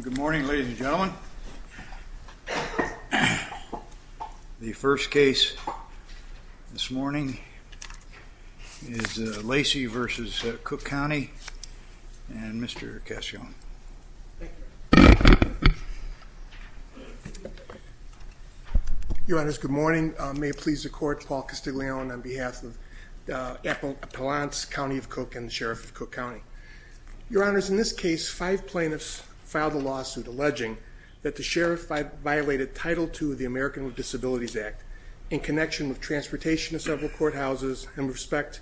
Good morning, ladies and gentlemen. The first case this morning is Lacy v. Cook County and Mr. Cassione. Your Honors, good morning. May it please the Court, Paul Castiglione on behalf of the Appalachian County of Cook and the Sheriff of Cook County. Your Honors, in this case, five plaintiffs filed a lawsuit alleging that the sheriff violated Title II of the American with Disabilities Act in connection with transportation to several courthouses in respect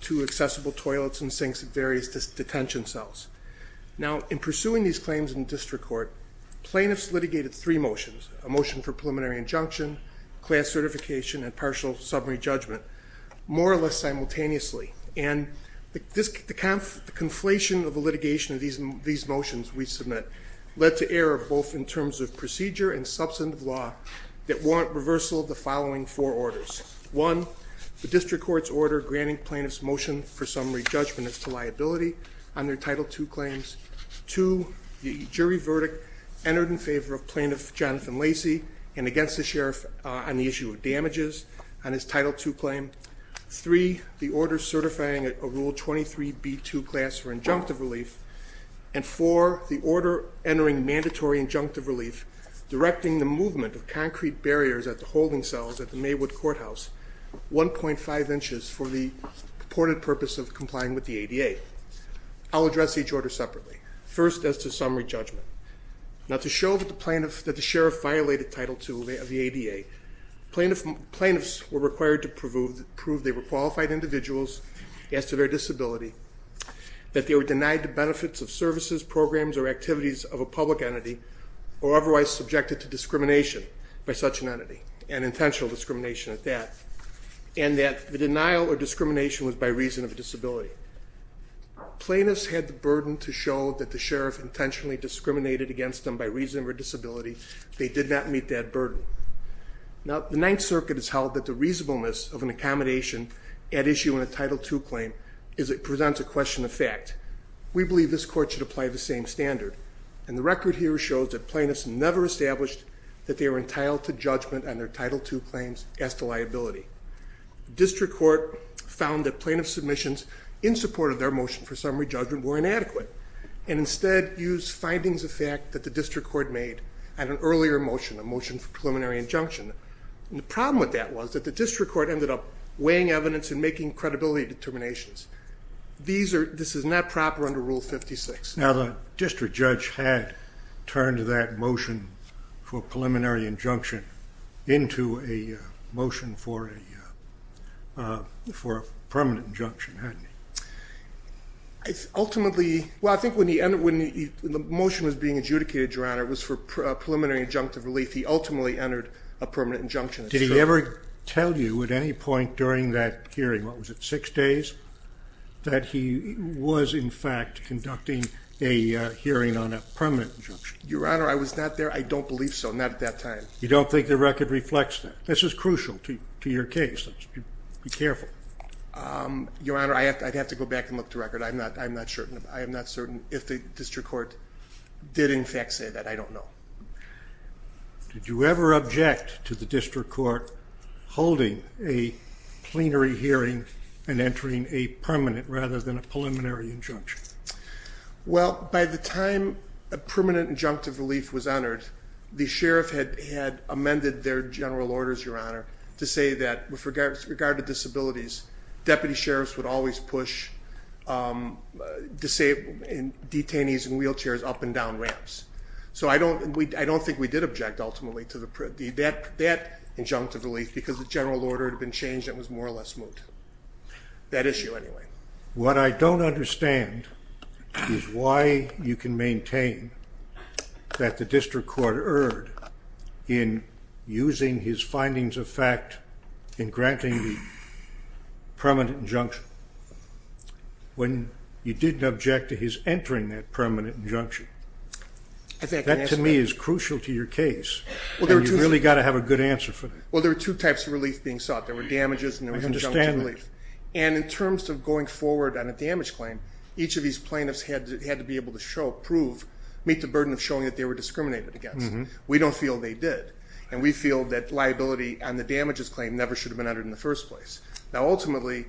to accessible toilets and sinks at various detention cells. Now in pursuing these claims in district court, plaintiffs litigated three motions, a motion for preliminary injunction, class certification, and partial summary judgment, more or less Conflation of the litigation of these motions we submit led to error both in terms of procedure and substantive law that warrant reversal of the following four orders. One, the district court's order granting plaintiffs motion for summary judgment as to liability on their Title II claims. Two, the jury verdict entered in favor of plaintiff Jonathan Lacy and against the sheriff on the issue of damages on his Title II claim. Three, the order certifying a Rule 23B2 class for injunctive relief. And four, the order entering mandatory injunctive relief directing the movement of concrete barriers at the holding cells at the Maywood Courthouse 1.5 inches for the purported purpose of complying with the ADA. I'll address each order separately. First as to summary judgment. Now to show that the plaintiff, that the sheriff violated Title II of the ADA, plaintiffs were required to prove they were qualified individuals as to their disability, that they were denied the benefits of services, programs, or activities of a public entity, or otherwise subjected to discrimination by such an entity, and intentional discrimination at that, and that the denial or discrimination was by reason of a disability. Plaintiffs had the burden to show that the sheriff intentionally discriminated against them by reason of a disability. They did not meet that burden. Now the Ninth Circuit has held that the reasonableness of an accommodation at issue in a Title II claim is it presents a question of fact. We believe this court should apply the same standard, and the record here shows that plaintiffs never established that they were entitled to judgment on their Title II claims as to liability. The district court found that plaintiff submissions in support of their motion for summary judgment were inadequate, and instead used findings of fact that the district court made at an injunction. And the problem with that was that the district court ended up weighing evidence and making credibility determinations. This is not proper under Rule 56. Now the district judge had turned that motion for preliminary injunction into a motion for a permanent injunction, hadn't he? Ultimately, well I think when the motion was being adjudicated, Your Honor, it was for preliminary injunctive relief. He ultimately entered a permanent injunction. Did he ever tell you at any point during that hearing, what was it, six days, that he was in fact conducting a hearing on a permanent injunction? Your Honor, I was not there. I don't believe so. Not at that time. You don't think the record reflects that? This is crucial to your case. Be careful. Your Honor, I'd have to go back and look at the record. I'm not certain. I am not certain if the district court did in fact say that. I don't know. Did you ever object to the district court holding a plenary hearing and entering a permanent rather than a preliminary injunction? Well, by the time a permanent injunctive relief was entered, the sheriff had amended their general orders, Your Honor, to say that with regard to disabilities, deputy sheriffs would always push detainees in wheelchairs up and down ramps. So I don't think we did object ultimately to that injunctive relief because the general order had been changed and was more or less moot. That issue anyway. What I don't understand is why you can maintain that the district court erred in using his When you didn't object to his entering that permanent injunction, that to me is crucial to your case. And you've really got to have a good answer for that. Well, there were two types of relief being sought. There were damages and there was injunctive relief. And in terms of going forward on a damage claim, each of these plaintiffs had to be able to show, prove, meet the burden of showing that they were discriminated against. We don't feel they did. And we feel that liability on the damages claim never should have been entered in the first place. Now, ultimately,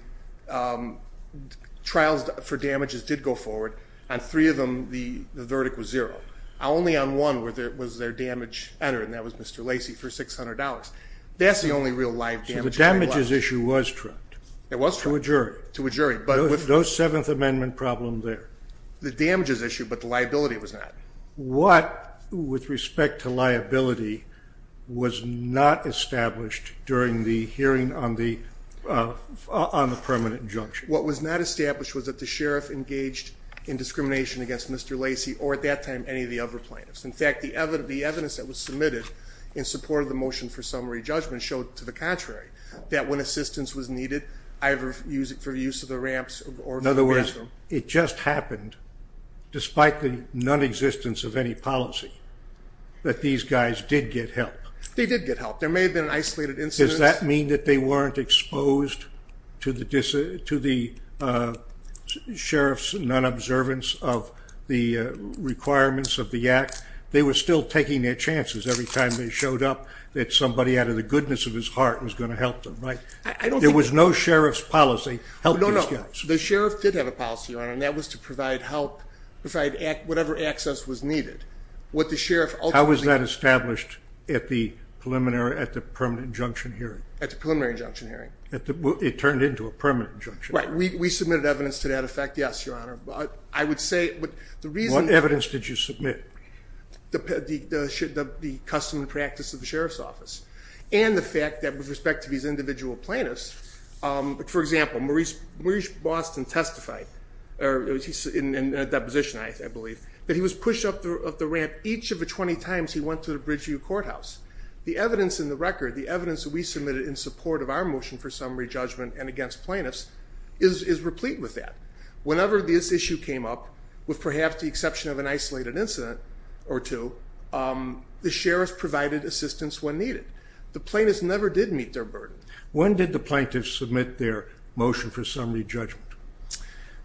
trials for damages did go forward. On three of them, the verdict was zero. Only on one was there damage entered, and that was Mr. Lacey for $600. That's the only real live damage. So the damages issue was trumped. It was trumped. To a jury. To a jury. No Seventh Amendment problem there. The damages issue, but the liability was not. What, with respect to liability, was not established during the hearing on the permanent injunction? What was not established was that the sheriff engaged in discrimination against Mr. Lacey or at that time any of the other plaintiffs. In fact, the evidence that was submitted in support of the motion for summary judgment showed to the contrary, that when assistance was needed, either for use of the ramps or for the bathroom. It just happened, despite the nonexistence of any policy, that these guys did get help. They did get help. There may have been an isolated incident. Does that mean that they weren't exposed to the sheriff's non-observance of the requirements of the act? They were still taking their chances every time they showed up, that somebody out of the goodness of his heart was going to help them, right? There was no sheriff's policy helping these guys. The sheriff did have a policy, Your Honor, and that was to provide help, provide whatever access was needed. What the sheriff ultimately- How was that established at the permanent injunction hearing? At the preliminary injunction hearing. It turned into a permanent injunction hearing. Right. We submitted evidence to that effect, yes, Your Honor. I would say, the reason- What evidence did you submit? The custom and practice of the sheriff's office and the fact that, with respect to these individual plaintiffs, for example, Maurice Boston testified in a deposition, I believe, that he was pushed up the ramp each of the 20 times he went to the Bridgeview Courthouse. The evidence in the record, the evidence that we submitted in support of our motion for summary judgment and against plaintiffs is replete with that. Whenever this issue came up, with perhaps the exception of an isolated incident or two, the sheriff provided assistance when needed. The plaintiffs never did meet their burden. When did the plaintiffs submit their motion for summary judgment?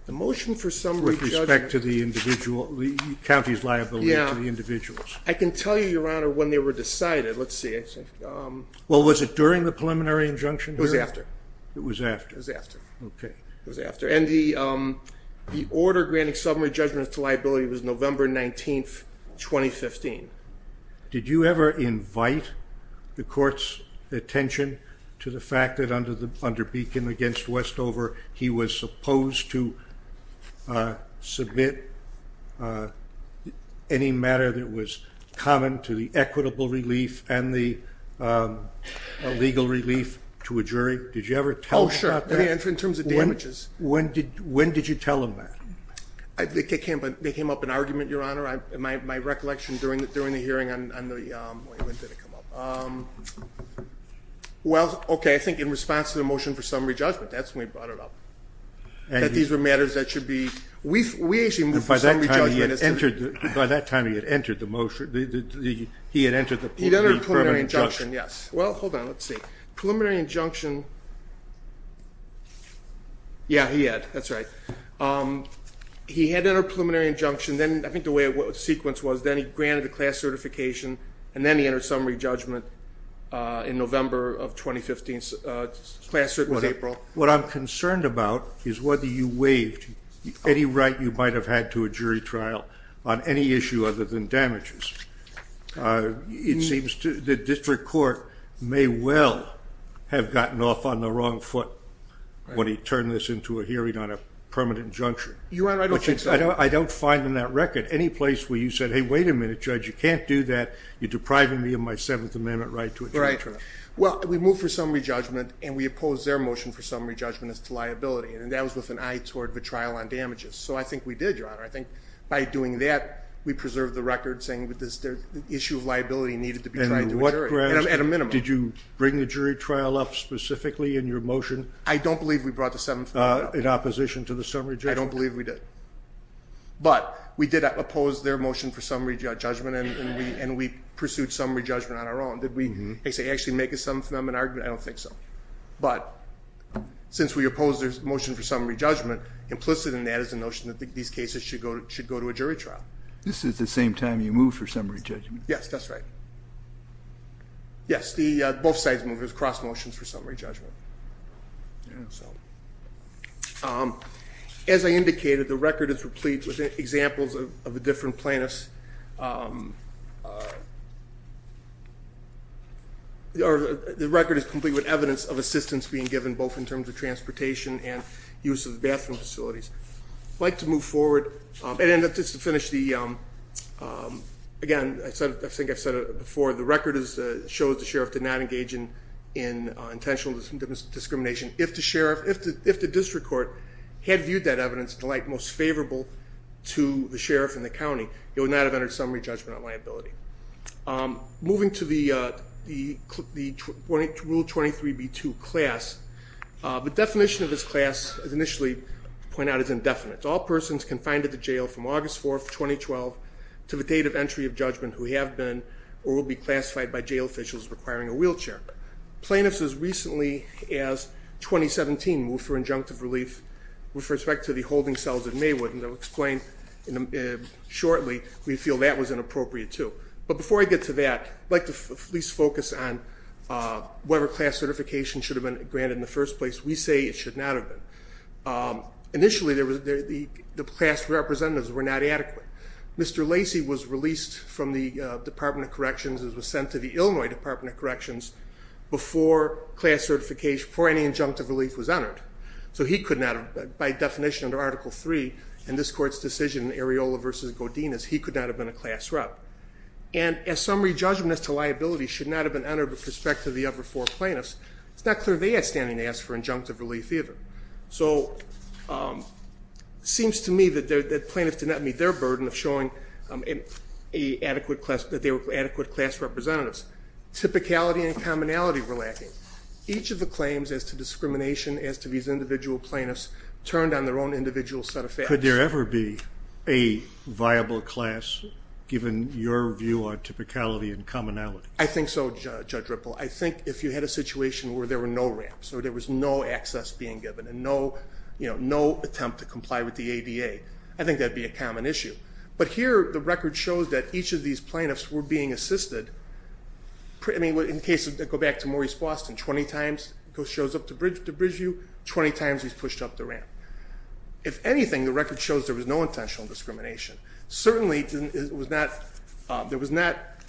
The motion for summary judgment- With respect to the individual, the county's liability to the individuals. I can tell you, Your Honor, when they were decided. Let's see. Well, was it during the preliminary injunction hearing? It was after. It was after. It was after. Okay. It was after. The order granting summary judgments to liability was November 19th, 2015. Did you ever invite the court's attention to the fact that under Beacon against Westover, he was supposed to submit any matter that was common to the equitable relief and the legal relief to a jury? Did you ever tell him that? Oh, sure. In terms of damages. When did you tell him that? They came up with an argument, Your Honor. My recollection during the hearing on the- When did it come up? Well, okay. I think in response to the motion for summary judgment, that's when we brought it up. That these were matters that should be- By that time, he had entered the motion. He had entered the preliminary injunction. He'd entered the preliminary injunction. Yes. Well, hold on. Let's see. Preliminary injunction. Yeah. He had. That's right. He had entered a preliminary injunction. Then, I think the way the sequence was, then he granted the class certification, and then he entered summary judgment in November of 2015. Class cert was April. What I'm concerned about is whether you waived any right you might have had to a jury trial on any issue other than damages. It seems the district court may well have gotten off on the wrong foot when he turned this into a hearing on a permanent injunction. Your Honor, I don't think so. I don't find in that record any place where you said, hey, wait a minute, Judge, you can't do that. You're depriving me of my Seventh Amendment right to a jury trial. Right. Well, we moved for summary judgment, and we opposed their motion for summary judgment as to liability. That was with an eye toward the trial on damages. I think we did, Your Honor. I think by doing that, we preserved the record saying the issue of liability needed to be tried to a jury. At a minimum. Did you bring the jury trial up specifically in your motion? I don't believe we brought the Seventh Amendment up. In opposition to the summary judgment? I don't believe we did. But we did oppose their motion for summary judgment, and we pursued summary judgment on our own. Did we actually make a Seventh Amendment argument? I don't think so. But since we opposed their motion for summary judgment, implicit in that is the notion that these cases should go to a jury trial. This is the same time you moved for summary judgment. Yes, that's right. Yes, both sides moved. It was cross motions for summary judgment. As I indicated, the record is replete with examples of the different plaintiffs. The record is complete with evidence of assistance being given, both in terms of transportation and use of the bathroom facilities. I'd like to move forward, and just to finish, again, I think I've said it before, the record shows the sheriff did not engage in intentional discrimination. If the district court had viewed that evidence to the like most favorable to the sheriff and the county, he would not have entered summary judgment on liability. Moving to the Rule 23b2 class, the definition of this class, as initially pointed out, is indefinite. All persons confined at the jail from August 4, 2012 to the date of entry of judgment who have been or will be classified by jail officials as requiring a wheelchair. Plaintiffs as recently as 2017 moved for injunctive relief with respect to the holding cells at Maywood, and I'll explain shortly, we feel that was inappropriate too. But before I get to that, I'd like to at least focus on whether class certification should have been granted in the first place. We say it should not have been. Initially the class representatives were not adequate. Mr. Lacey was released from the Department of Corrections and was sent to the Illinois Department of Corrections before any injunctive relief was entered. So he could not, by definition under Article 3 in this court's decision, Areola v. Godinez, he could not have been a class rep. And as summary judgment as to liability should not have been entered with respect to the other four plaintiffs, it's not clear they had standing to ask for injunctive relief either. So it seems to me that plaintiffs did not meet their burden of showing that they were adequate class representatives. Typicality and commonality were lacking. Each of the claims as to discrimination as to these individual plaintiffs turned on their own individual set of facts. Could there ever be a viable class given your view on typicality and commonality? I think so, Judge Ripple. I think if you had a situation where there were no ramps or there was no access being given and no attempt to comply with the ADA, I think that would be a common issue. But here the record shows that each of these plaintiffs were being assisted, in the case of, to go back to Maurice Boston, 20 times he shows up to Bridgeview, 20 times he's pushed up the ramp. If anything, the record shows there was no intentional discrimination. Certainly, there was not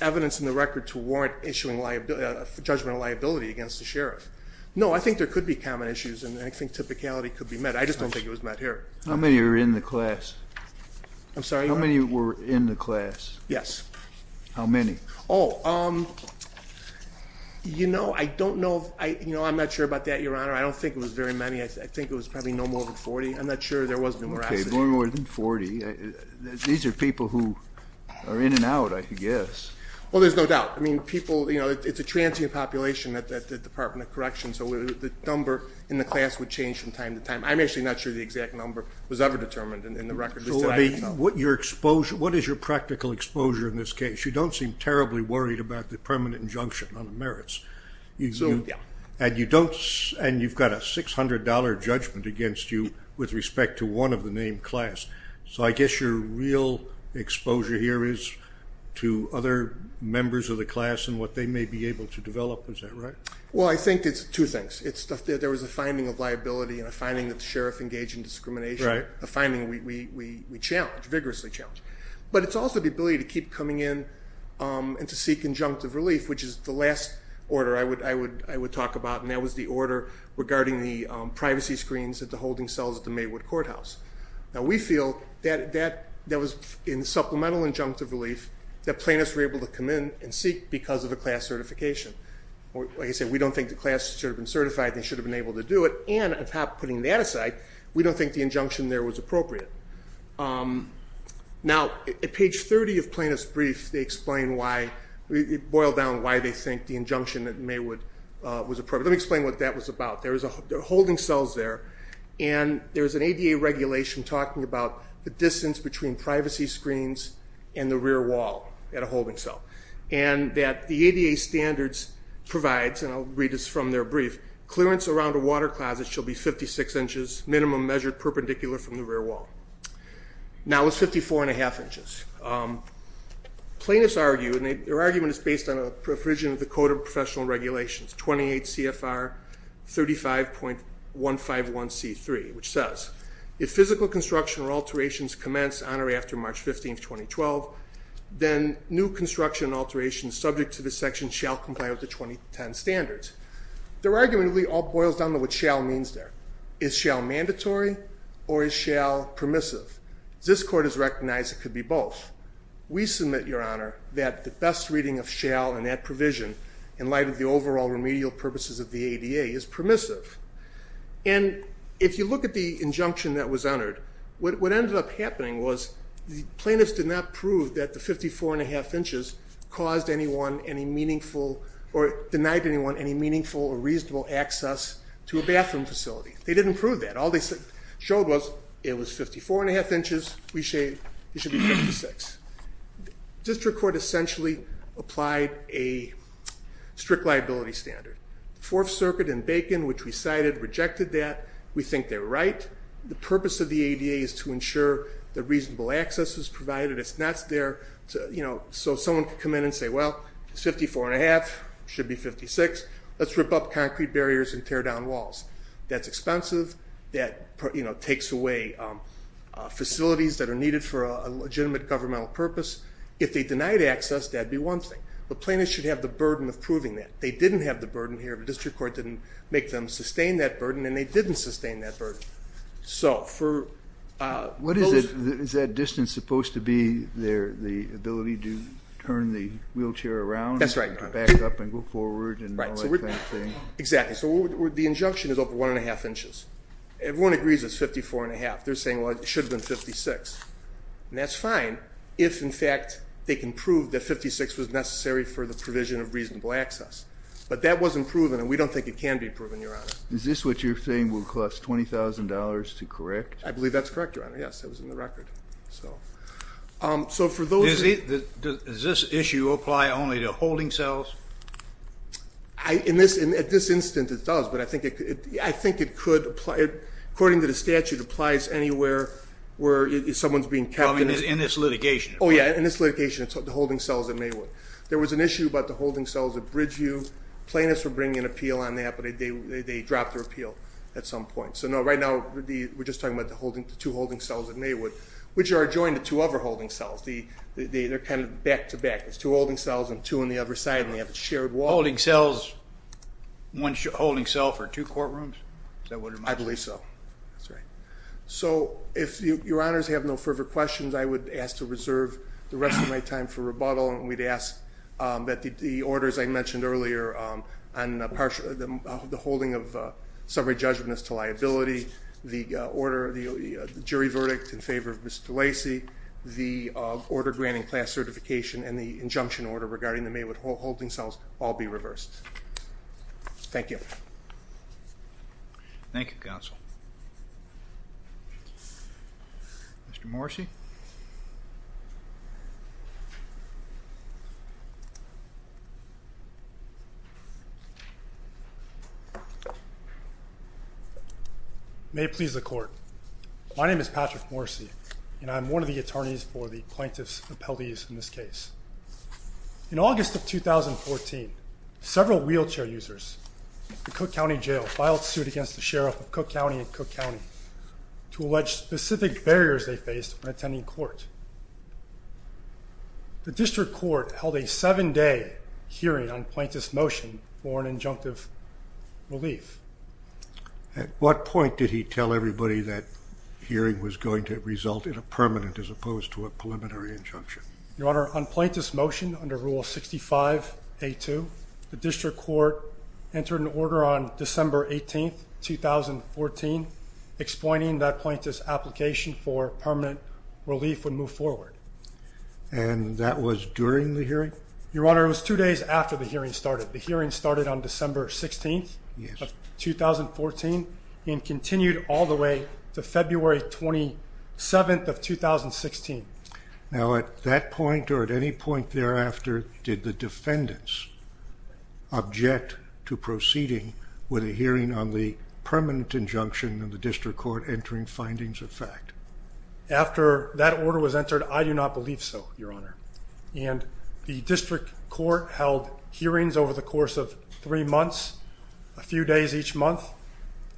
evidence in the record to warrant issuing a judgment of liability against the sheriff. No, I think there could be common issues and I think typicality could be met. I just don't think it was met here. How many were in the class? I'm sorry? How many were in the class? Yes. How many? Oh, you know, I don't know, you know, I'm not sure about that, Your Honor. I don't think it was very many. I think it was probably no more than 40. I'm not sure there was any veracity. Okay, no more than 40. These are people who are in and out, I guess. Well, there's no doubt. I mean, people, you know, it's a transient population at the Department of Correction, so the number in the class would change from time to time. I'm actually not sure the exact number was ever determined in the record. So, I mean, what is your practical exposure in this case? You don't seem terribly worried about the permanent injunction on the merits. So, yeah. And you don't, and you've got a $600 judgment against you with respect to one of the named members of the class. So, I guess your real exposure here is to other members of the class and what they may be able to develop. Is that right? Well, I think it's two things. There was a finding of liability and a finding that the sheriff engaged in discrimination, a finding we challenged, vigorously challenged. But it's also the ability to keep coming in and to seek injunctive relief, which is the last order I would talk about, and that was the order regarding the privacy screens at the holding cells at the Maywood Courthouse. Now, we feel that that was in supplemental injunctive relief that plaintiffs were able to come in and seek because of a class certification. Like I said, we don't think the class should have been certified, they should have been able to do it, and on top of putting that aside, we don't think the injunction there was appropriate. Now, at page 30 of plaintiff's brief, they explain why, boil down why they think the injunction at Maywood was appropriate. Let me explain what that was about. There are holding cells there, and there's an ADA regulation talking about the distance between privacy screens and the rear wall at a holding cell. And that the ADA standards provides, and I'll read this from their brief, clearance around a water closet shall be 56 inches, minimum measured perpendicular from the rear wall. Now it's 54 and a half inches. Plaintiffs argue, and their argument is based on a provision of the Code of Professional Regulations, 28 CFR 35.151C3, which says, if physical construction or alterations commence on or after March 15, 2012, then new construction alterations subject to this section shall comply with the 2010 standards. Their argument really all boils down to what shall means there. Is shall mandatory, or is shall permissive? This court has recognized it could be both. We submit, Your Honor, that the best reading of shall and that provision, in light of the overall remedial purposes of the ADA, is permissive. And if you look at the injunction that was entered, what ended up happening was the plaintiffs did not prove that the 54 and a half inches caused anyone any meaningful or denied anyone any meaningful or reasonable access to a bathroom facility. They didn't prove that. All they showed was it was 54 and a half inches. We say it should be 56. District Court essentially applied a strict liability standard. Fourth Circuit and Bacon, which we cited, rejected that. We think they're right. The purpose of the ADA is to ensure that reasonable access is provided. It's not there to, you know, so someone could come in and say, well, it's 54 and a half, should be 56. Let's rip up concrete barriers and tear down walls. That's expensive. That, you know, takes away facilities that are needed for a legitimate governmental purpose. If they denied access, that'd be one thing. The plaintiffs should have the burden of proving that. They didn't have the burden here. The District Court didn't make them sustain that burden, and they didn't sustain that burden. So for... What is it? Is that distance supposed to be the ability to turn the wheelchair around? That's right. Back up and go forward and all that kind of thing? Exactly. So the injunction is over one and a half inches. Everyone agrees it's 54 and a half. They're saying, well, it should have been 56. And that's fine if, in fact, they can prove that 56 was necessary for the provision of reasonable access. But that wasn't proven, and we don't think it can be proven, Your Honor. Is this what you're saying will cost $20,000 to correct? I believe that's correct, Your Honor. Yes, it was in the record. So for those... Does this issue apply only to holding cells? In this instance, it does. But I think it could apply... Someone's being kept... In this litigation. Oh, yeah, in this litigation, the holding cells at Maywood. There was an issue about the holding cells at Bridgeview. Plaintiffs were bringing an appeal on that, but they dropped their appeal at some point. So, no, right now, we're just talking about the two holding cells at Maywood, which are adjoined to two other holding cells. They're kind of back-to-back. There's two holding cells and two on the other side, and they have a shared wall. One holding cell for two courtrooms? I believe so. That's right. So if Your Honors have no further questions, I would ask to reserve the rest of my time for rebuttal, and we'd ask that the orders I mentioned earlier on the holding of summary judgments to liability, the jury verdict in favor of Mr. Lacey, the order granting class certification, and the injunction order regarding the Maywood holding cells all be reversed. Thank you. Thank you, Counsel. Thank you. Mr. Morrisey. May it please the Court. My name is Patrick Morrisey, and I'm one of the attorneys for the plaintiff's appellees in this case. In August of 2014, several wheelchair users at the Cook County Jail filed suit against the Sheriff of Cook County and Cook County to allege specific barriers they faced when attending court. The District Court held a seven-day hearing on plaintiff's motion for an injunctive relief. At what point did he tell everybody that hearing was going to result in a permanent as opposed to a preliminary injunction? Your Honor, on plaintiff's motion under Rule 65A2, the District Court entered an order on December 18, 2014 explaining that plaintiff's application for permanent relief would move forward. And that was during the hearing? Your Honor, it was two days after the hearing started. The hearing started on December 16, 2014 and continued all the way to February 27, 2016. Now, at that point or at any point thereafter, did the defendants object to proceeding with a hearing on the permanent injunction of the District Court entering findings of fact? After that order was entered, I do not believe so, Your Honor. And the District Court held hearings over the course of three months, a few days each month,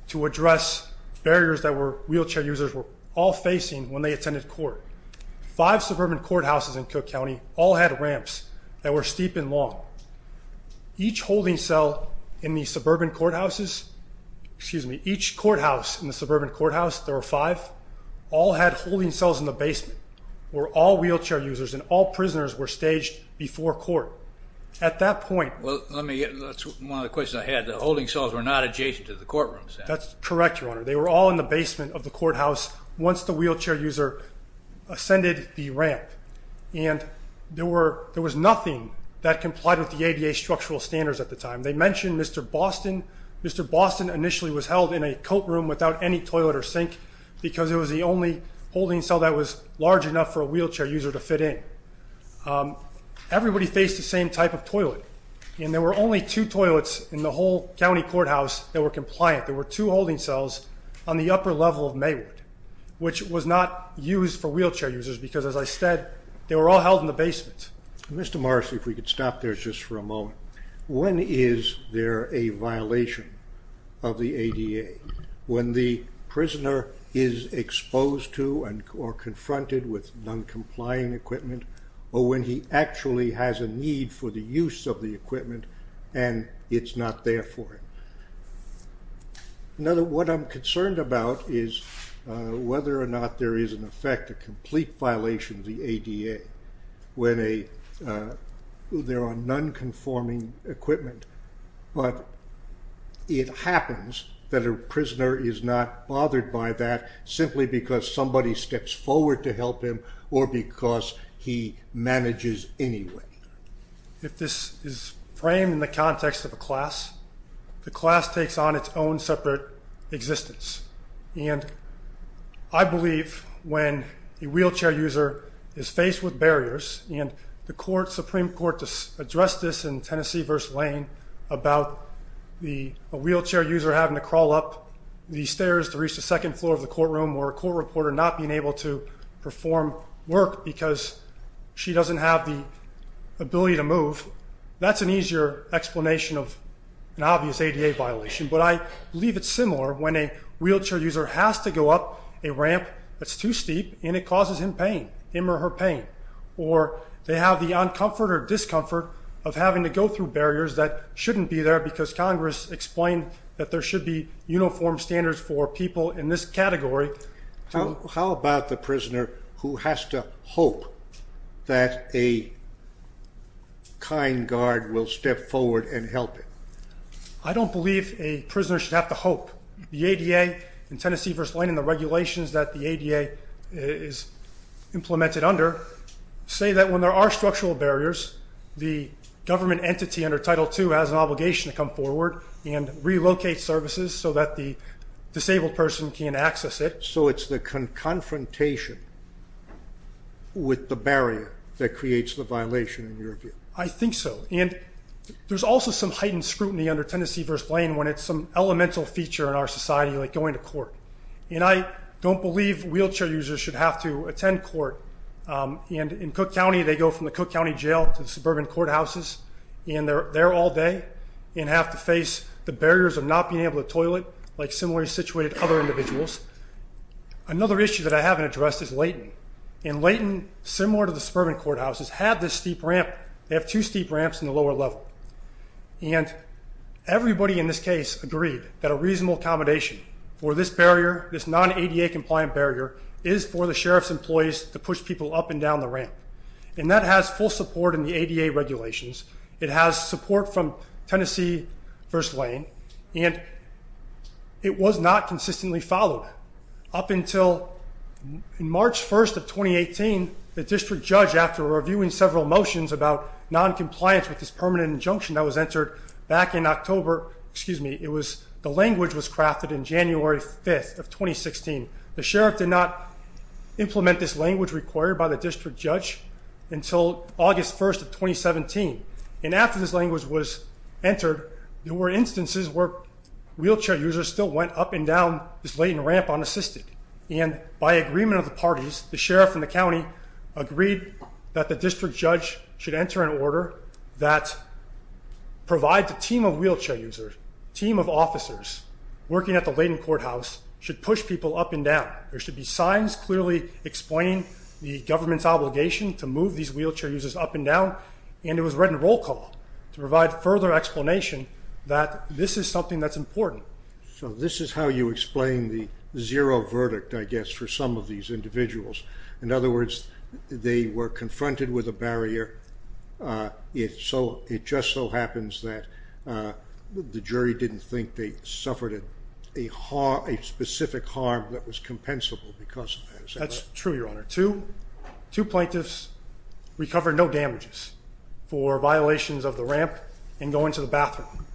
to address barriers that wheelchair users were all facing when they attended court. Five suburban courthouses in Cook County all had ramps that were steep and long. Each holding cell in the suburban courthouses, excuse me, each courthouse in the suburban courthouse, there were five, all had holding cells in the basement where all wheelchair users and all prisoners were staged before court. At that point... Well, let me get... That's one of the questions I had. The holding cells were not adjacent to the courtroom. That's correct, Your Honor. They were all in the basement of the courthouse once the wheelchair user ascended the ramp. And there was nothing that complied with the ADA structural standards at the time. They mentioned Mr Boston. Mr Boston initially was held in a coat room without any toilet or sink because it was the only holding cell that was large enough for a wheelchair user to fit in. Everybody faced the same type of toilet. And there were only two toilets in the whole county courthouse that were compliant. There were two holding cells on the upper level of Maywood, which was not used for wheelchair users because, as I said, they were all held in the basement. Mr Morris, if we could stop there just for a moment. When is there a violation of the ADA? When the prisoner is exposed to or confronted with non-complying equipment or when he actually has a need for the use of the equipment and it's not there for him? What I'm concerned about is whether or not there is, in effect, a complete violation of the ADA when they're on non-conforming equipment. But it happens that a prisoner is not bothered by that simply because somebody steps forward to help him or because he manages anyway. If this is framed in the context of a class, the class takes on its own separate existence. And I believe when a wheelchair user is faced with barriers and the Supreme Court addressed this in Tennessee v. Lane about a wheelchair user having to crawl up the stairs to reach the second floor of the courtroom or a court reporter not being able to perform work because she doesn't have the ability to move, that's an easier explanation of an obvious ADA violation. But I believe it's similar when a wheelchair user has to go up a ramp that's too steep and it causes him or her pain. Or they have the uncomfort or discomfort of having to go through barriers that shouldn't be there because Congress explained that there should be uniform standards for people in this category. How about the prisoner who has to hope that a kind guard will step forward and help him? I don't believe a prisoner should have to hope. The ADA in Tennessee v. Lane and the regulations that the ADA is implemented under say that when there are structural barriers, the government entity under Title II has an obligation to come forward and relocate services so that the disabled person can access it. So it's the confrontation with the barrier that creates the violation in your view? I think so. There's also some heightened scrutiny under Tennessee v. Lane when it's some elemental feature in our society like going to court. I don't believe wheelchair users should have to attend court. In Cook County they go from the Cook County Jail to the suburban courthouses and they're there all day and have to face the barriers of not being able to toilet Another issue that I haven't addressed is Layton. Layton, similar to the suburban courthouses, have this steep ramp. They have two steep ramps in the lower level. Everybody in this case agreed that a reasonable accommodation for this non-ADA compliant barrier is for the Sheriff's employees to push people up and down the ramp. That has full support in the ADA regulations. It has support from Tennessee v. Lane and it was not consistently followed up until March 1, 2018 the District Judge, after reviewing several motions about non-compliance with this permanent injunction that was entered back in October the language was crafted in January 5, 2016. The Sheriff did not implement this language required by the District Judge until August 1, 2017. And after this language was entered there were instances where wheelchair users still went up and down this Layton ramp unassisted and by agreement of the parties, the Sheriff and the County agreed that the District Judge should enter an order that provides a team of wheelchair users a team of officers working at the Layton Courthouse should push people up and down. There should be signs clearly explaining the government's obligation to move these wheelchair users up and down and it was read in roll call to provide further explanation that this is something that's important. So this is how you explain the zero verdict for some of these individuals. In other words they were confronted with a barrier it just so happens that the jury didn't think they suffered a specific harm that was compensable because of that. That's true, Your Honor. Two plaintiffs recovered no damages for violations of the ramp and going to the bathroom.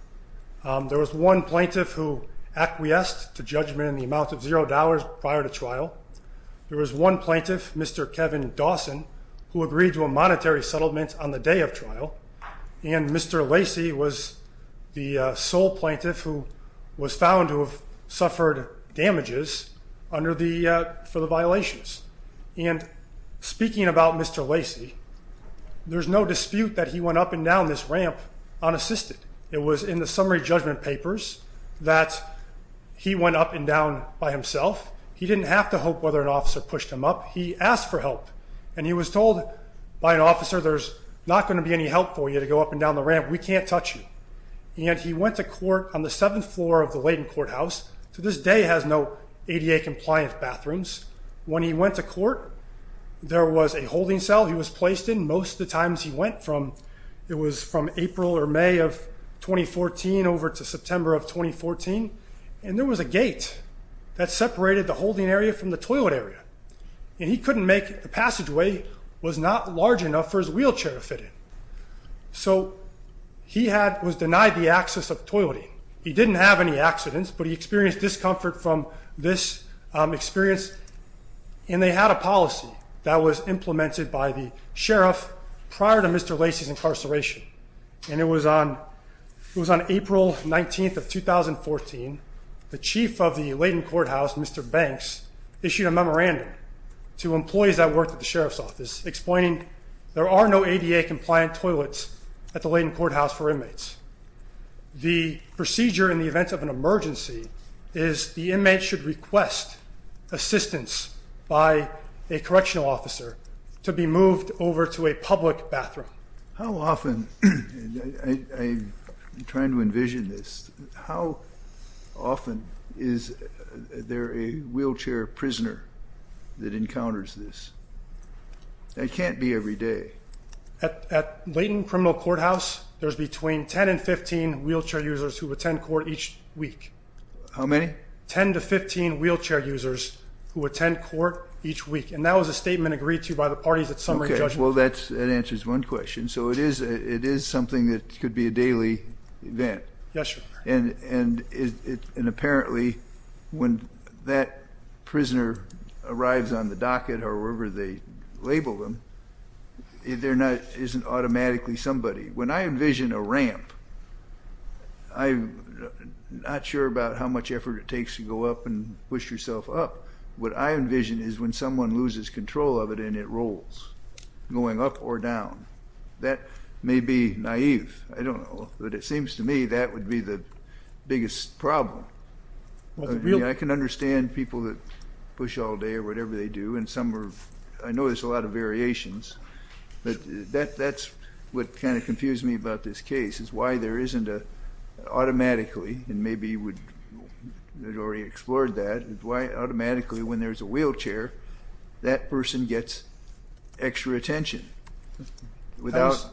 There was one plaintiff who acquiesced to judgment in the amount of zero dollars prior to trial. There was one plaintiff, Mr. Kevin Dawson who agreed to a monetary settlement on the day of trial. And Mr. Lacey was the sole plaintiff who was found to have suffered damages for the violations. And speaking about Mr. Lacey, there's no dispute that he went up and down this ramp unassisted. It was in the summary judgment papers that he went up and down by himself. He didn't have to hope whether an officer pushed him up. He asked for help and he was told by an officer there's not going to be any help for you to go up and down the ramp. We can't touch you. And he went to court on the 7th floor of the Layton courthouse to this day has no ADA compliant bathrooms. When he went to court, there was a holding cell he was placed in. Most of the times he went it was from April or May of 2014 over to September of 2014. And there was a gate that separated the holding area from the toilet area. And he couldn't make it. The passageway was not large enough for his wheelchair to fit in. So he was denied the access of toileting. He didn't have any accidents, but he experienced discomfort from this experience. And they had a policy that was implemented by the sheriff prior to Mr. Lacey's incarceration. And it was on April 19th of 2014, the chief of the Layton courthouse, Mr. Banks, issued a memorandum to employees that worked at the sheriff's office explaining there are no ADA compliant toilets at the Layton courthouse for inmates. The procedure in the event of an emergency is the inmate should request assistance by a correctional officer to be moved over to a public bathroom. How often, I'm trying to envision this, how often is there a wheelchair prisoner that encounters this? That can't be every day. At Layton criminal courthouse, there's between 10 and 15 wheelchair users who attend court each week. How many? 10 to 15 wheelchair users who attend court each week. And that was a statement agreed to by the parties at summary judgment. That answers one question. So it is something that could be a daily event. Yes, sir. And apparently when that prisoner arrives on the docket or wherever they label them, it isn't automatically somebody. When I envision a ramp, I'm not sure about how much effort it takes to go up and push yourself up. What I envision is when someone loses control of it and it rolls, going up or down. That may be naive. I don't know. But it seems to me that would be the biggest problem. I can understand people that push all day or whatever they do. I know there's a lot of variations. That's what kind of confused me about this case is why there isn't a automatically and maybe you would have already explored that why automatically when there's a wheelchair that person gets extra attention without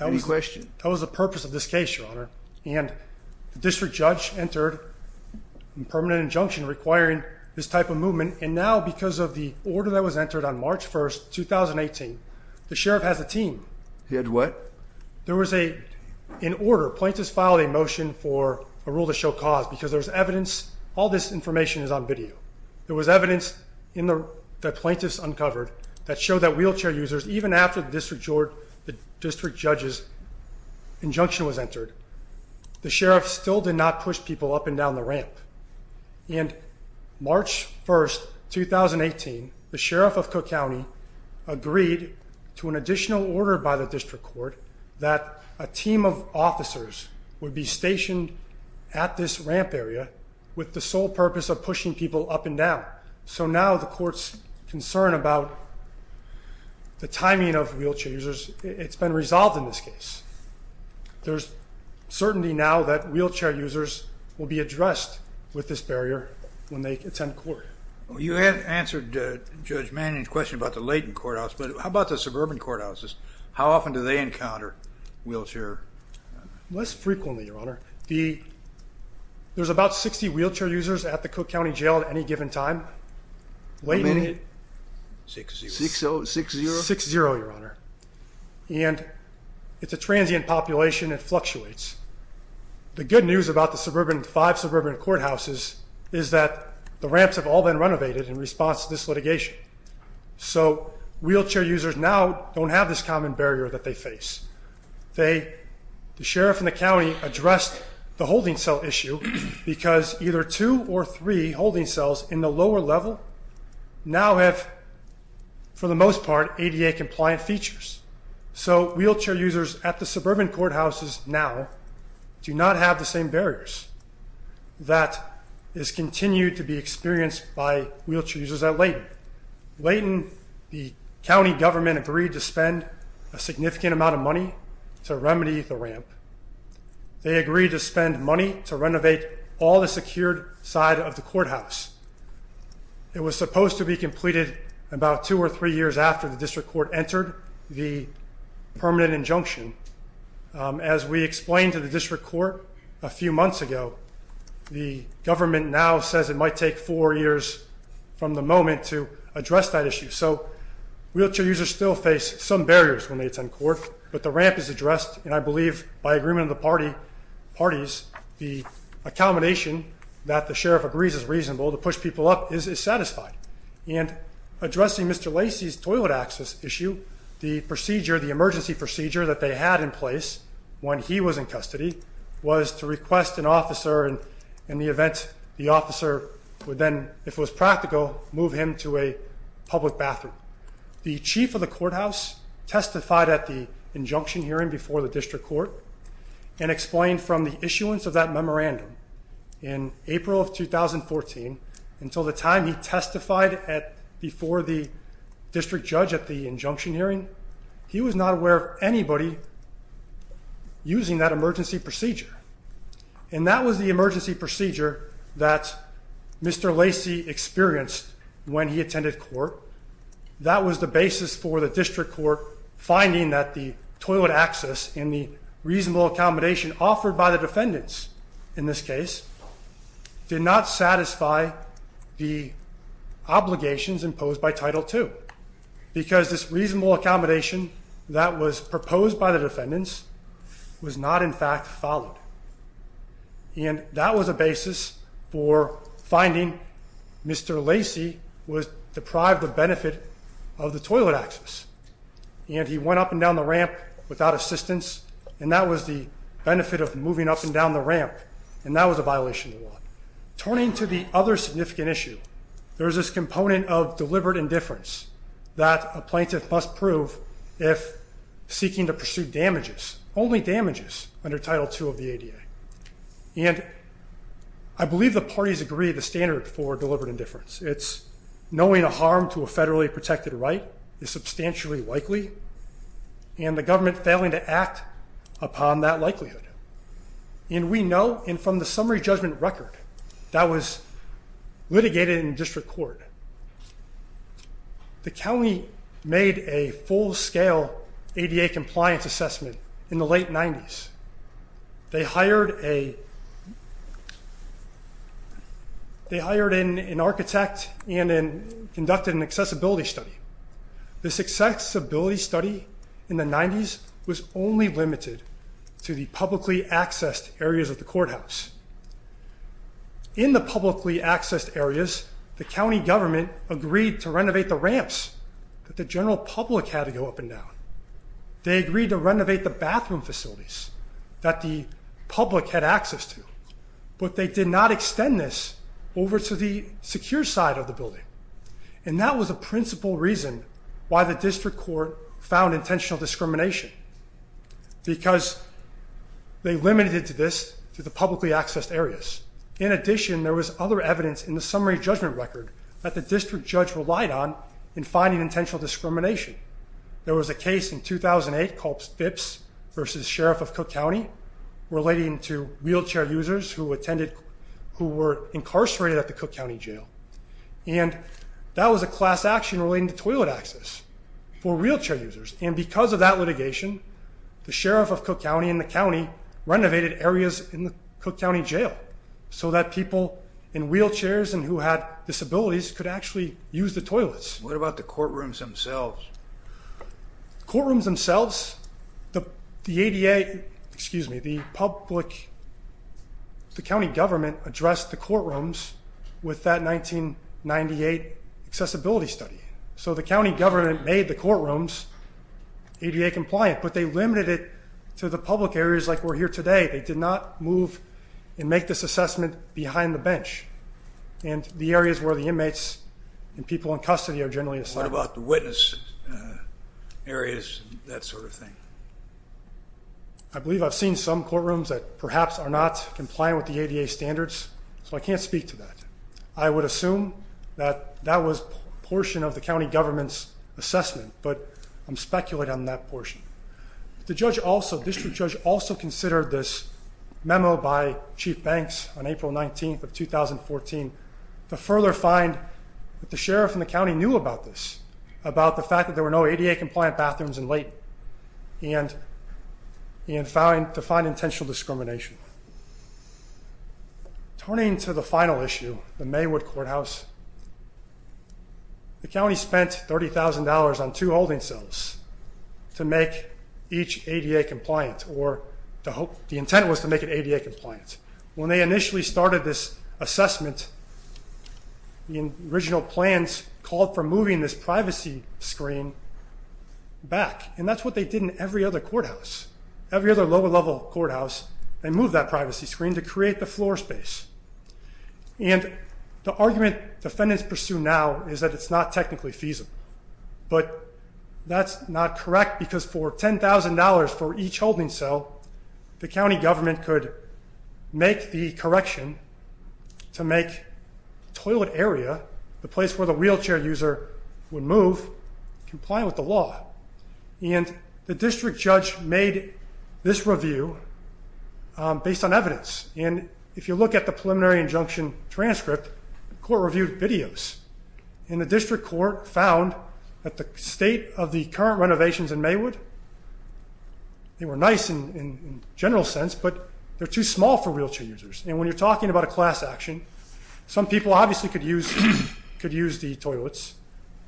any question. That was the purpose of this case, Your Honor. And the district judge entered a permanent injunction requiring this type of movement and now because of the order that was entered on March 1, 2018, the sheriff has a team. He had what? There was an order. Plaintiffs filed a motion for a rule to show cause because all this information is on video. There was evidence that plaintiffs uncovered that showed that wheelchair users, even after the district judge's injunction was entered, the sheriff still did not push people up and down the ramp. And March 1, 2018, the sheriff of Cook County agreed to an additional order by the district court that a team of officers would be stationed at this ramp area with the sole purpose of pushing people up and down. So now the court's concern about the timing of wheelchair users, it's been resolved in this case. There's certainty now that wheelchair users will be addressed with this barrier when they attend court. You have answered Judge Manning's question about the latent courthouse, but how about the suburban courthouses? How often do they encounter wheelchair...? Less frequently, Your Honor. There's about 60 wheelchair users at the Cook County Jail at any given time. 60? 60, Your Honor. And it's a transient population, it fluctuates. The good news about the five suburban courthouses is that the ramps have all been renovated in response to this litigation. So wheelchair users now don't have this common barrier that they face. The sheriff in the county addressed the holding cell issue because either two or three holding cells in the lower level now have for the most part ADA compliant features. So wheelchair users at the suburban courthouses now do not have the same barriers that is continued to be experienced by wheelchair users at Layton. a significant amount of money to remedy the ramp. They agreed to spend money to renovate all the secured side of the courthouse. It was supposed to be completed about two or three years after the district court entered the permanent injunction. As we explained to the district court a few months ago, the government now says it might take four years So wheelchair users still face some barriers when they attend court, but the ramp is addressed and I believe by agreement of the parties the accommodation that the sheriff agrees is reasonable to push people up is satisfied. Addressing Mr. Lacey's toilet access issue, the emergency procedure that they had in place when he was in custody was to request an officer in the event the officer would then if it was practical, move him to a public bathroom. The chief of the courthouse testified at the injunction hearing before the district court and explained from the issuance of that memorandum in April of 2014 until the time he testified before the district judge at the injunction hearing, he was not aware of anybody using that emergency procedure. And that was the emergency procedure that Mr. Lacey experienced when he attended court. That was the basis for the district court finding that the toilet access and the reasonable accommodation offered by the defendants in this case did not satisfy the obligations imposed by Title II because this reasonable accommodation that was proposed by the defendants was not in fact followed. And that was a basis for finding Mr. Lacey was deprived of benefit of the toilet access and he went up and down the ramp without assistance and that was the benefit of moving up and down the ramp and that was a violation of the law. Turning to the other significant issue, there is this component of deliberate indifference that a plaintiff must prove if seeking to pursue damages, only damages under Title II of the ADA. And I believe the parties agree the standard for deliberate indifference. It's knowing a harm to a federally protected right is substantially likely and the government failing to act upon that likelihood. And we know from the summary judgment record that was litigated in district court. The county made a full scale ADA compliance assessment in the late 90's. They hired a architect and conducted an accessibility study. This accessibility study in the 90's was only limited to the publicly accessed areas of the courthouse. In the publicly accessed areas, the county government agreed to renovate the ramps that the general public had to go up and down. They agreed to renovate the bathroom facilities that the public had access to. But they did not extend this over to the secure side of the building. And that was a principal reason why the district court found intentional discrimination. Because they limited this to the publicly accessed areas. In addition, there was other evidence in the summary judgment record that the district judge relied on in finding intentional discrimination. There was a case in 2008 called Phipps v. Sheriff of Cook County relating to wheelchair users who were incarcerated at the Cook County Jail. And that was a class action relating to toilet access for wheelchair users. And because of that litigation the Sheriff of Cook County and the county renovated areas in the Cook County Jail so that people in wheelchairs and who had disabilities could actually use the toilets. What about the courtrooms themselves? Courtrooms themselves the ADA, excuse me, the public the county government addressed the courtrooms with that 1998 accessibility study. So the county government made the courtrooms ADA compliant. But they limited it to the public areas like we're here today. They did not move and make this assessment behind the bench. And the areas where the inmates and people in custody are generally assigned. What about the witness areas and that sort of thing? I believe I've seen some courtrooms that perhaps are not compliant with the ADA standards. So I can't speak to that. I would assume that that was a portion of the county government's assessment. But I'm speculating on that portion. The district judge also considered this memo by Chief Banks on April 19th of 2014 to further find that the sheriff and the county knew about this. About the fact that there were no ADA compliant bathrooms in Layton. And to find intentional discrimination. Turning to the final issue, the Maywood Courthouse. The county spent $30,000 on two holding cells to make each ADA compliant or the intent was to make it ADA compliant. When they initially started this assessment the original plans called for moving this privacy screen back. And that's what they did in every other courthouse. Every other lower level courthouse they moved that privacy screen to create the floor space. And the argument defendants pursue now is that it's not technically feasible. But that's not correct because for $10,000 for each holding cell the county government could make the correction to make the toilet area, the place where the wheelchair user would move, compliant with the law. And the district judge made this review based on evidence. And if you look at the preliminary injunction transcript the court reviewed videos. And the district court found that the state of the current renovations in Maywood, they were nice in general sense, but they're too small for wheelchair users. And when you're talking about a class action some people obviously could use the toilets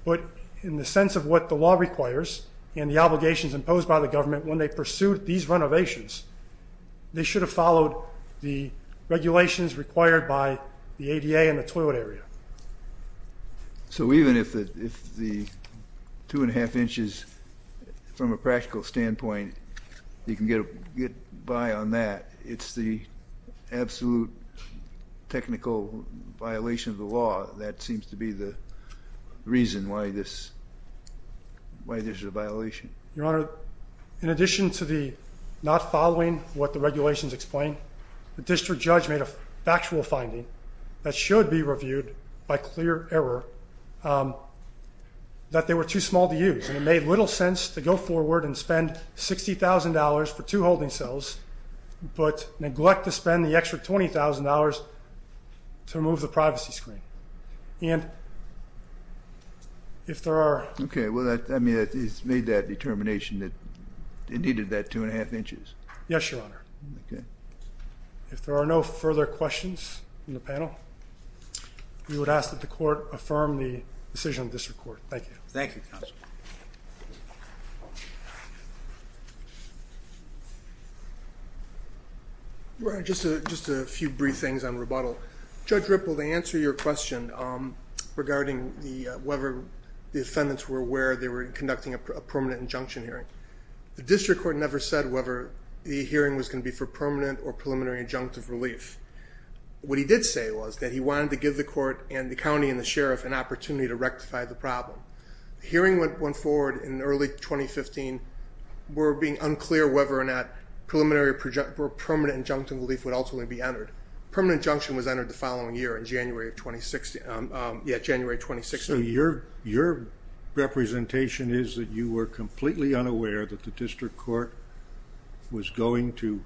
but in the sense of what the law requires and the obligations imposed by the government when they pursued these renovations, they should have followed the regulations required by the ADA and the toilet area. So even if the 2.5 inches from a practical standpoint you can get by on that. It's the absolute technical violation of the law that seems to be the reason why this is a violation. Your Honor, in addition to the not following what the regulations explain the district judge made a factual finding that should be reviewed by clear error that they were too small to use. And it made little sense to go forward and spend $60,000 for two holding cells but neglect to spend the extra $20,000 to remove the privacy screen. And if there are... It's made that determination that it needed that 2.5 inches? Yes, Your Honor. If there are no further questions from the panel we would ask that the court affirm the decision of the district court. Thank you. Thank you, counsel. Just a few brief things on rebuttal. Judge Ripple, to answer your question regarding whether the defendants were aware they were conducting a permanent injunction hearing. The district court never said whether the hearing was going to be for permanent or preliminary injunctive relief. What he did say was that he wanted to give the court and the county and the sheriff an opportunity to rectify the problem. The hearing went forward in early 2015. We're being unclear whether or not preliminary or permanent injunctive relief would ultimately be entered. Permanent injunction was entered the following year in January 2016. Your representation is that you were completely unaware that the district court was going to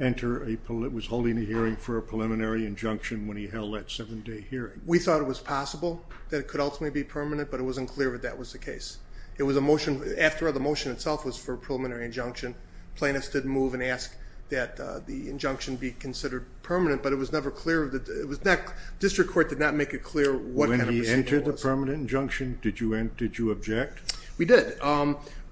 enter a...was holding a hearing for a preliminary injunction when he held that 7-day hearing. We thought it was possible that it could ultimately be permanent, but it wasn't clear that that was the case. The motion itself was for a preliminary injunction. Plaintiffs didn't move and ask that the injunction be considered permanent, but it was never clear. The district court did not make it clear what kind of procedure it was. When he entered the permanent injunction did you object? We did.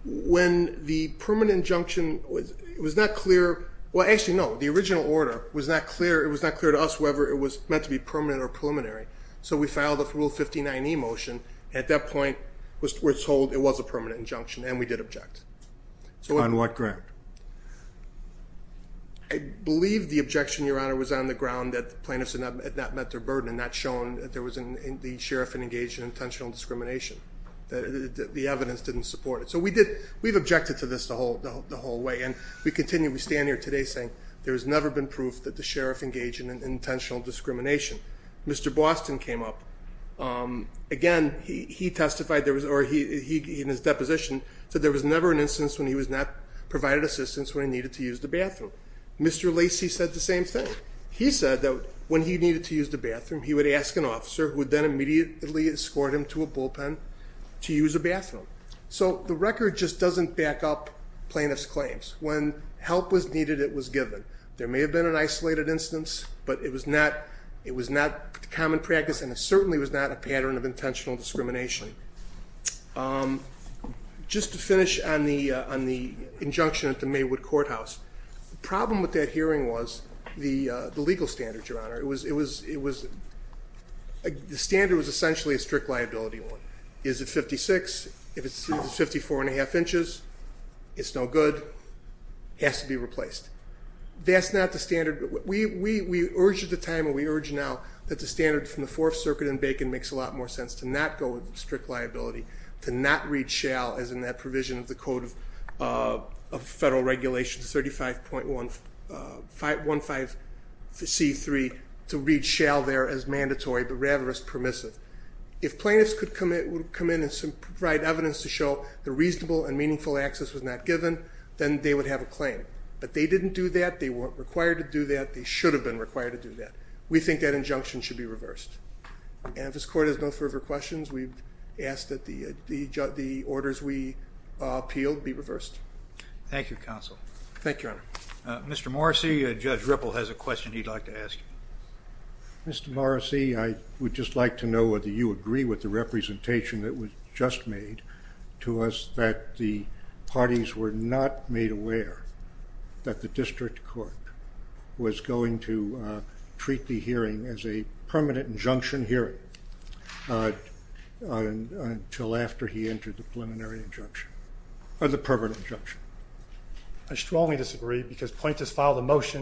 When the permanent injunction was not clear...well, actually, no. The original order was not clear to us whether it was meant to be permanent or preliminary. So we filed a Rule 59e motion. At that point we were told it was a permanent injunction and we did object. On what ground? I believe the objection, Your Honor, was on the ground that the plaintiffs had not met their burden and not shown that the sheriff had engaged in intentional discrimination. The evidence didn't support it. So we did...we've objected to this the whole way and we continue...we stand here today saying there has never been proof that the sheriff engaged in intentional discrimination. Mr. Boston came up again, he testified in his deposition that there was never an instance when he was not provided assistance when he needed to use the bathroom. Mr. Lacey said the same thing. He said that when he needed to use the bathroom he would ask an officer who would then immediately escort him to a bullpen to use the bathroom. So the record just doesn't back up the plaintiff's claims. When help was needed, it was given. There may have been an isolated instance, but it was not common practice and it certainly was not a pattern of intentional discrimination. Just to finish on the injunction at the Maywood Courthouse, the problem with that hearing was the legal standard, Your Honor. It was...the standard was essentially a strict liability one. Is it 56? If it's 54 and a half inches, it's no good. It has to be replaced. That's not the standard. We urge at the time and we urge now that the standard from the Fourth Circuit and Bacon makes a lot more sense to not go with strict liability, to not read shall as in that provision of the Code of Federal Regulations 35.15 C3 to read shall there as mandatory but rather as permissive. If plaintiffs would come in and provide evidence to show the reasonable and meaningful access was not given, then they would have a claim. But they didn't do that. They weren't required to do that. They should have been required to do that. We think that injunction should be reversed. And if this Court has no further questions, we ask that the orders we appeal be reversed. Thank you, Counsel. Thank you, Your Honor. Mr. Morrissey, Judge Ripple has a question he'd like to ask. Mr. Morrissey, I would just like to know whether you agree with the representation that was just made to us that the parties were not made aware that the district court was going to treat the hearing as a permanent injunction hearing until after he entered the preliminary injunction or the permanent injunction. I strongly disagree because when we were asked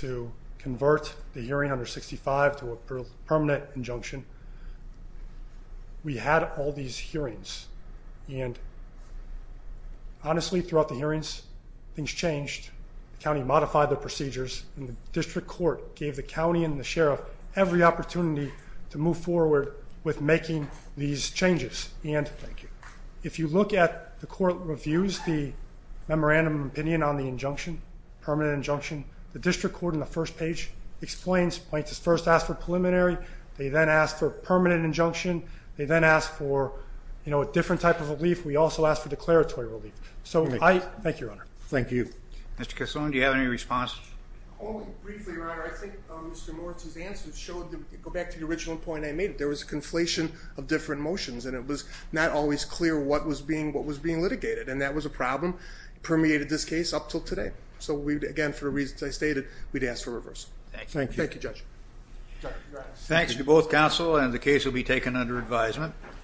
to convert the hearing under 65 to a permanent injunction, we had all these hearings. And honestly, throughout the hearings, things changed. The county modified the procedures and the district court gave the county and the sheriff every opportunity to move forward with making these changes. And if you look at the court reviews, the memorandum of opinion on the injunction, permanent injunction, the district court in the first page explains, first asked for preliminary, they then asked for permanent injunction, they then asked for a different type of relief, we also asked for declaratory relief. Thank you, Your Honor. Mr. Cassone, do you have any response? Briefly, Your Honor, I think Mr. Morrissey's answer showed back to the original point I made, there was a conflation of different motions and it was not always clear what was being discussed until today. So again, for the reasons I stated, we'd ask for reversal. Thank you, Judge. Thank you to both counsel and the case will be taken under advisement.